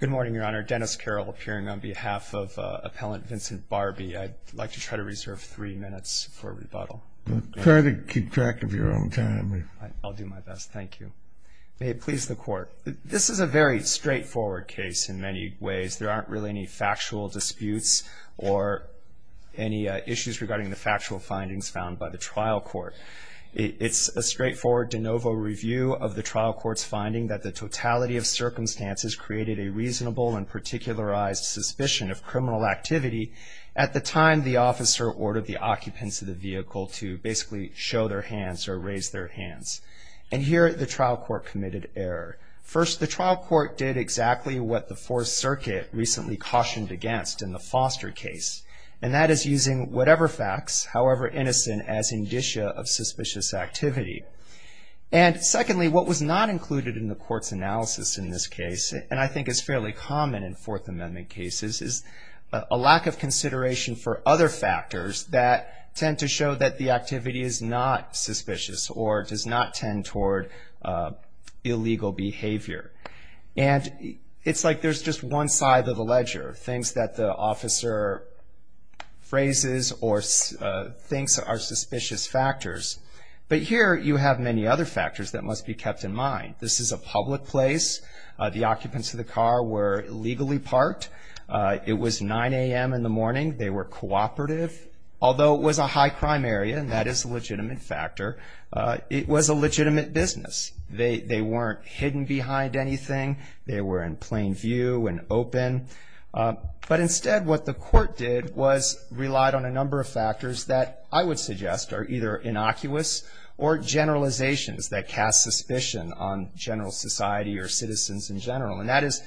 Good morning, Your Honor. Dennis Carroll appearing on behalf of Appellant Vincent Barbee. I'd like to try to reserve three minutes for rebuttal. Try to keep track of your own time. I'll do my best. Thank you. May it please the Court. This is a very straightforward case in many ways. There aren't really any factual disputes or any issues regarding the factual findings found by the trial court. It's a straightforward de novo review of the trial court's finding that the totality of circumstances created a reasonable and particularized suspicion of criminal activity at the time the officer ordered the occupants of the vehicle to basically show their hands or raise their hands. And here the trial court committed error. First, the trial court did exactly what the Fourth Circuit recently cautioned against in the Foster case, and that is using whatever facts, however innocent, as indicia of suspicious activity. And secondly, what was not included in the court's analysis in this case, and I think is fairly common in Fourth Amendment cases, is a lack of consideration for other factors that tend to show that the activity is not suspicious or does not tend toward illegal behavior. And it's like there's just one side of the ledger, things that the officer phrases or thinks are suspicious factors. But here you have many other factors that must be kept in mind. This is a public place. The occupants of the car were illegally parked. It was 9 a.m. in the morning. They were cooperative. Although it was a high-crime area, and that is a legitimate factor, it was a legitimate business. They weren't hidden behind anything. They were in plain view and open. But instead what the court did was relied on a number of factors that I would suggest are either innocuous or generalizations that cast suspicion on general society or citizens in general. And that is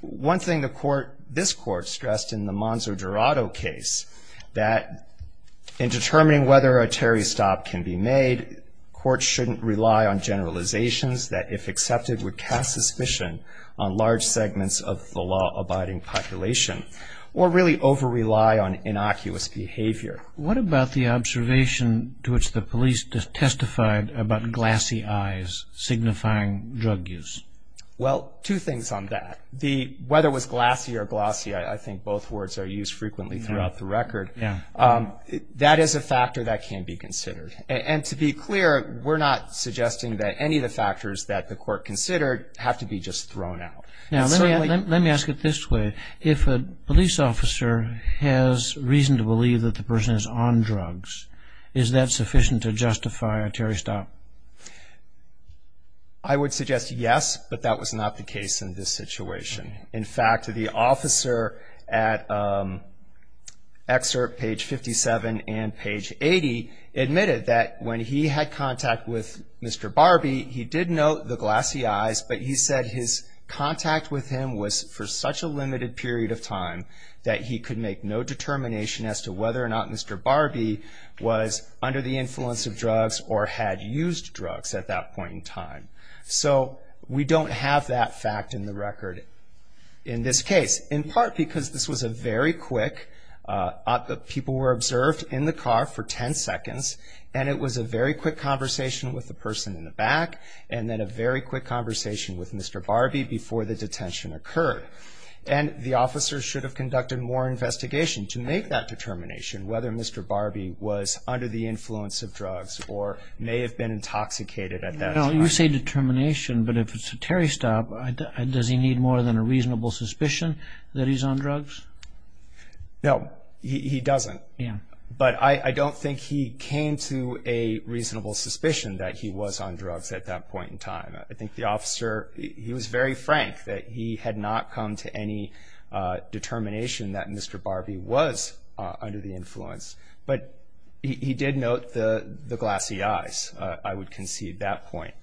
one thing the court, this court, stressed in the Monza-Dorado case, that in determining whether a Terry stop can be made, courts shouldn't rely on generalizations that, if accepted, would cast suspicion on large segments of the law-abiding population or really over-rely on innocuous behavior. What about the observation to which the police testified about glassy eyes signifying drug use? Well, two things on that. Whether it was glassy or glossy, I think both words are used frequently throughout the record, that is a factor that can be considered. And to be clear, we're not suggesting that any of the factors that the court considered have to be just thrown out. Let me ask it this way. If a police officer has reason to believe that the person is on drugs, is that sufficient to justify a Terry stop? I would suggest yes, but that was not the case in this situation. In fact, the officer at excerpt page 57 and page 80 admitted that when he had contact with Mr. Barbie, he did note the glassy eyes, but he said his contact with him was for such a limited period of time that he could make no determination as to whether or not Mr. Barbie was under the influence of drugs or had used drugs at that point in time. So we don't have that fact in the record in this case, in part because this was a very quick, people were observed in the car for 10 seconds, and it was a very quick conversation with the person in the back, and then a very quick conversation with Mr. Barbie before the detention occurred. And the officer should have conducted more investigation to make that determination, whether Mr. Barbie was under the influence of drugs or may have been intoxicated at that time. You say determination, but if it's a Terry stop, does he need more than a reasonable suspicion that he's on drugs? No, he doesn't. Yeah. But I don't think he came to a reasonable suspicion that he was on drugs at that point in time. I think the officer, he was very frank that he had not come to any determination that Mr. Barbie was under the influence, but he did note the glassy eyes, I would concede that point.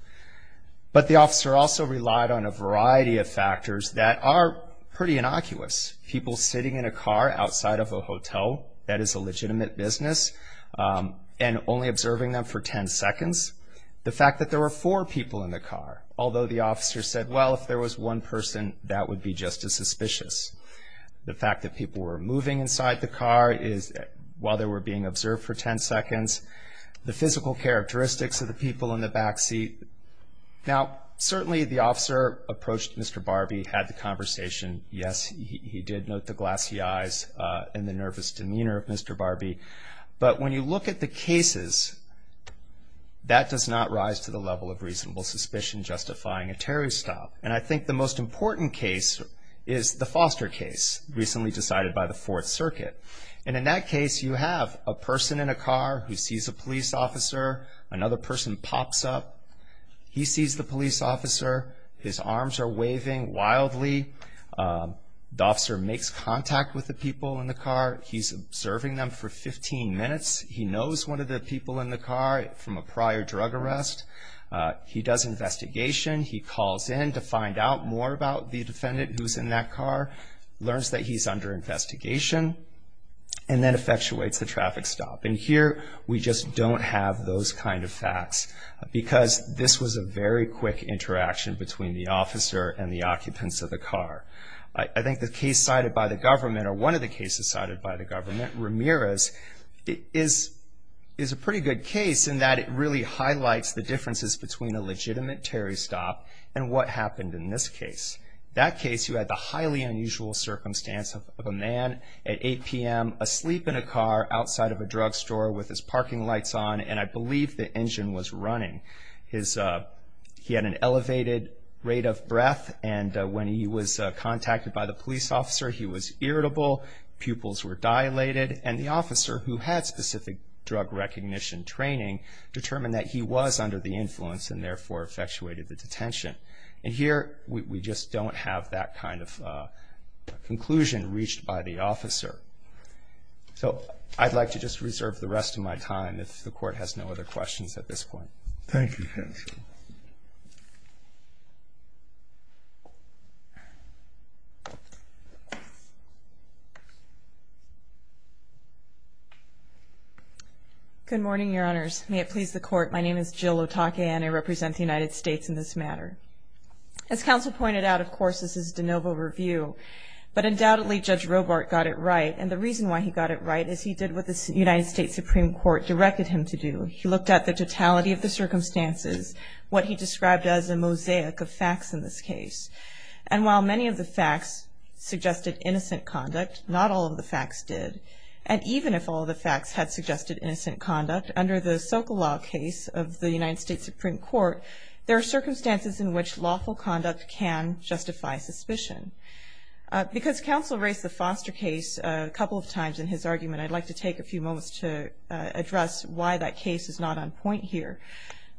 But the officer also relied on a variety of factors that are pretty innocuous. People sitting in a car outside of a hotel, that is a legitimate business, and only observing them for 10 seconds. The fact that there were four people in the car, although the officer said, well, if there was one person, that would be just as suspicious. The fact that people were moving inside the car while they were being observed for 10 seconds. The physical characteristics of the people in the back seat. Now, certainly the officer approached Mr. Barbie, had the conversation. Yes, he did note the glassy eyes and the nervous demeanor of Mr. Barbie. But when you look at the cases, that does not rise to the level of reasonable suspicion justifying a terrorist stop. And I think the most important case is the Foster case, recently decided by the Fourth Circuit. And in that case, you have a person in a car who sees a police officer. Another person pops up. He sees the police officer. His arms are waving wildly. The officer makes contact with the people in the car. He's observing them for 15 minutes. He knows one of the people in the car from a prior drug arrest. He does investigation. He calls in to find out more about the defendant who's in that car. Learns that he's under investigation, and then effectuates the traffic stop. And here, we just don't have those kind of facts, because this was a very quick interaction between the officer and the occupants of the car. I think the case cited by the government, or one of the cases cited by the government, Ramirez, is a pretty good case in that it really highlights the differences between a legitimate terrorist stop and what happened in this case. That case, you had the highly unusual circumstance of a man at 8 p.m. asleep in a car outside of a drugstore with his parking lights on, and I believe the engine was running. He had an elevated rate of breath, and when he was contacted by the police officer, he was irritable. Pupils were dilated, and the officer, who had specific drug recognition training, determined that he was under the influence, and therefore effectuated the detention. And here, we just don't have that kind of conclusion reached by the officer. So I'd like to just reserve the rest of my time, if the Court has no other questions at this point. Thank you, Counsel. Good morning, Your Honors. May it please the Court, my name is Jill Otake, and I represent the United States in this matter. As Counsel pointed out, of course, this is de novo review, but undoubtedly Judge Robart got it right, and the reason why he got it right is he did what the United States Supreme Court directed him to do. He looked at the totality of the circumstances, what he described as a mosaic of facts in this case. And while many of the facts suggested innocent conduct, not all of the facts did. And even if all the facts had suggested innocent conduct, under the Sokolov case of the United States Supreme Court, there are circumstances in which lawful conduct can justify suspicion. Because Counsel raised the Foster case a couple of times in his argument, I'd like to take a few moments to address why that case is not on point here.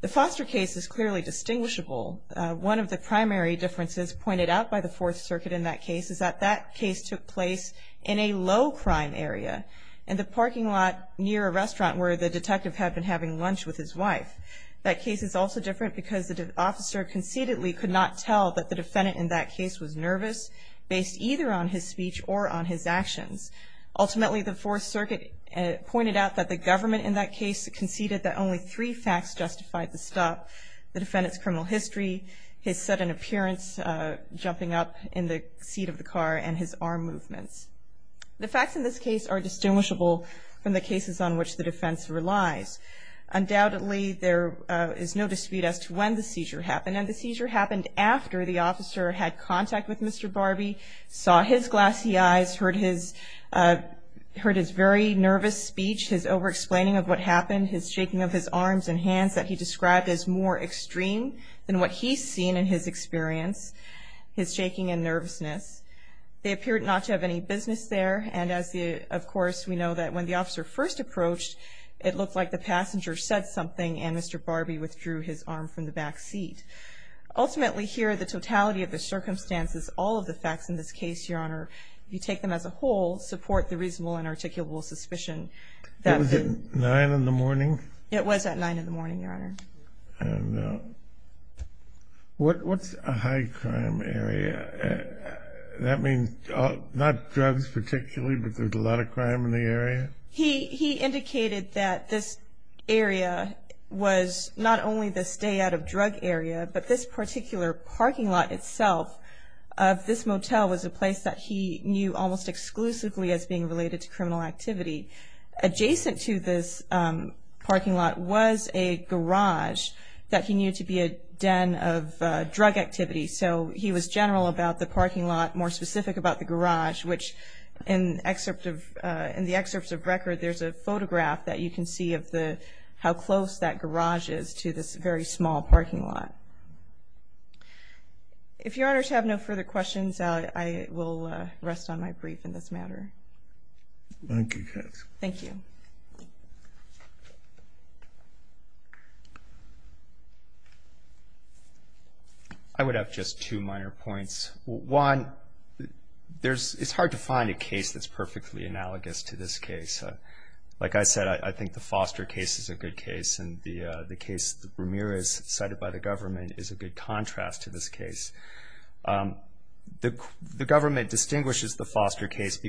The Foster case is clearly distinguishable. One of the primary differences pointed out by the Fourth Circuit in that case is that that case took place in a low-crime area, in the parking lot near a restaurant where the detective had been having lunch with his wife. That case is also different because the officer conceitedly could not tell that the defendant in that case was nervous, based either on his speech or on his actions. Ultimately, the Fourth Circuit pointed out that the government in that case conceded that only three facts justified the stop. The defendant's criminal history, his sudden appearance jumping up in the seat of the car, and his arm movements. The facts in this case are distinguishable from the cases on which the defense relies. Undoubtedly, there is no dispute as to when the seizure happened. The seizure happened after the officer had contact with Mr. Barbie, saw his glassy eyes, heard his very nervous speech, his over-explaining of what happened, his shaking of his arms and hands that he described as more extreme than what he's seen in his experience, his shaking and nervousness. They appeared not to have any business there. And, of course, we know that when the officer first approached, it looked like the passenger said something, and Mr. Barbie withdrew his arm from the back seat. Ultimately, here, the totality of the circumstances, all of the facts in this case, Your Honor, if you take them as a whole, support the reasonable and articulable suspicion. It was at 9 in the morning? It was at 9 in the morning, Your Honor. And what's a high crime area? That means not drugs particularly, but there's a lot of crime in the area? He indicated that this area was not only the stay-out-of-drug area, but this particular parking lot itself of this motel was a place that he knew almost exclusively as being related to criminal activity. Adjacent to this parking lot was a garage that he knew to be a den of drug activity. So he was general about the parking lot, more specific about the garage, which in the excerpts of record, there's a photograph that you can see of how close that garage is to this very small parking lot. If Your Honors have no further questions, I will rest on my brief in this matter. Thank you, Katz. Thank you. I would have just two minor points. One, it's hard to find a case that's perfectly analogous to this case. Like I said, I think the Foster case is a good case, and the case that Ramirez cited by the government is a good contrast to this case. The government distinguishes the Foster case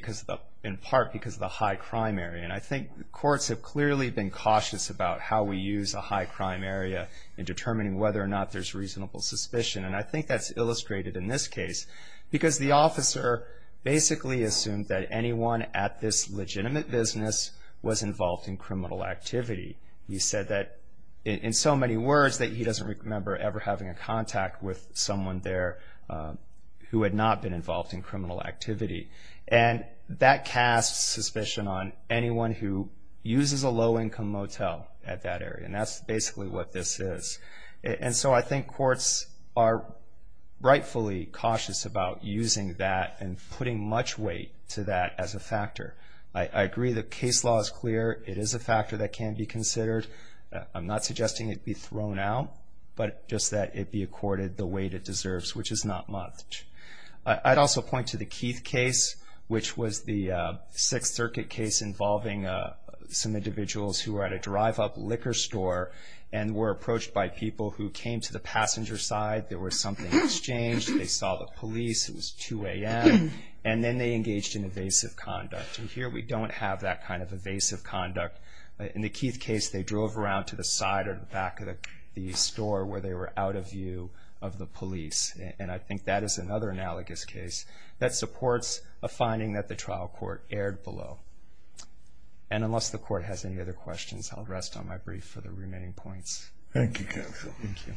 in part because of the high crime area. And I think courts have clearly been cautious about how we use a high crime area in determining whether or not there's reasonable suspicion. And I think that's illustrated in this case because the officer basically assumed that anyone at this legitimate business was involved in criminal activity. He said that in so many words that he doesn't remember ever having a contact with someone there who had not been involved in criminal activity. And that casts suspicion on anyone who uses a low-income motel at that area, and that's basically what this is. And so I think courts are rightfully cautious about using that and putting much weight to that as a factor. I agree the case law is clear. It is a factor that can be considered. I'm not suggesting it be thrown out, but just that it be accorded the weight it deserves, which is not much. I'd also point to the Keith case, which was the Sixth Circuit case involving some individuals who were at a drive-up liquor store and were approached by people who came to the passenger side. There was something exchanged. They saw the police. It was 2 a.m., and then they engaged in evasive conduct. And here we don't have that kind of evasive conduct. In the Keith case, they drove around to the side or the back of the store where they were out of view of the police, and I think that is another analogous case that supports a finding that the trial court erred below. And unless the Court has any other questions, I'll rest on my brief for the remaining points. Thank you, counsel. Thank you.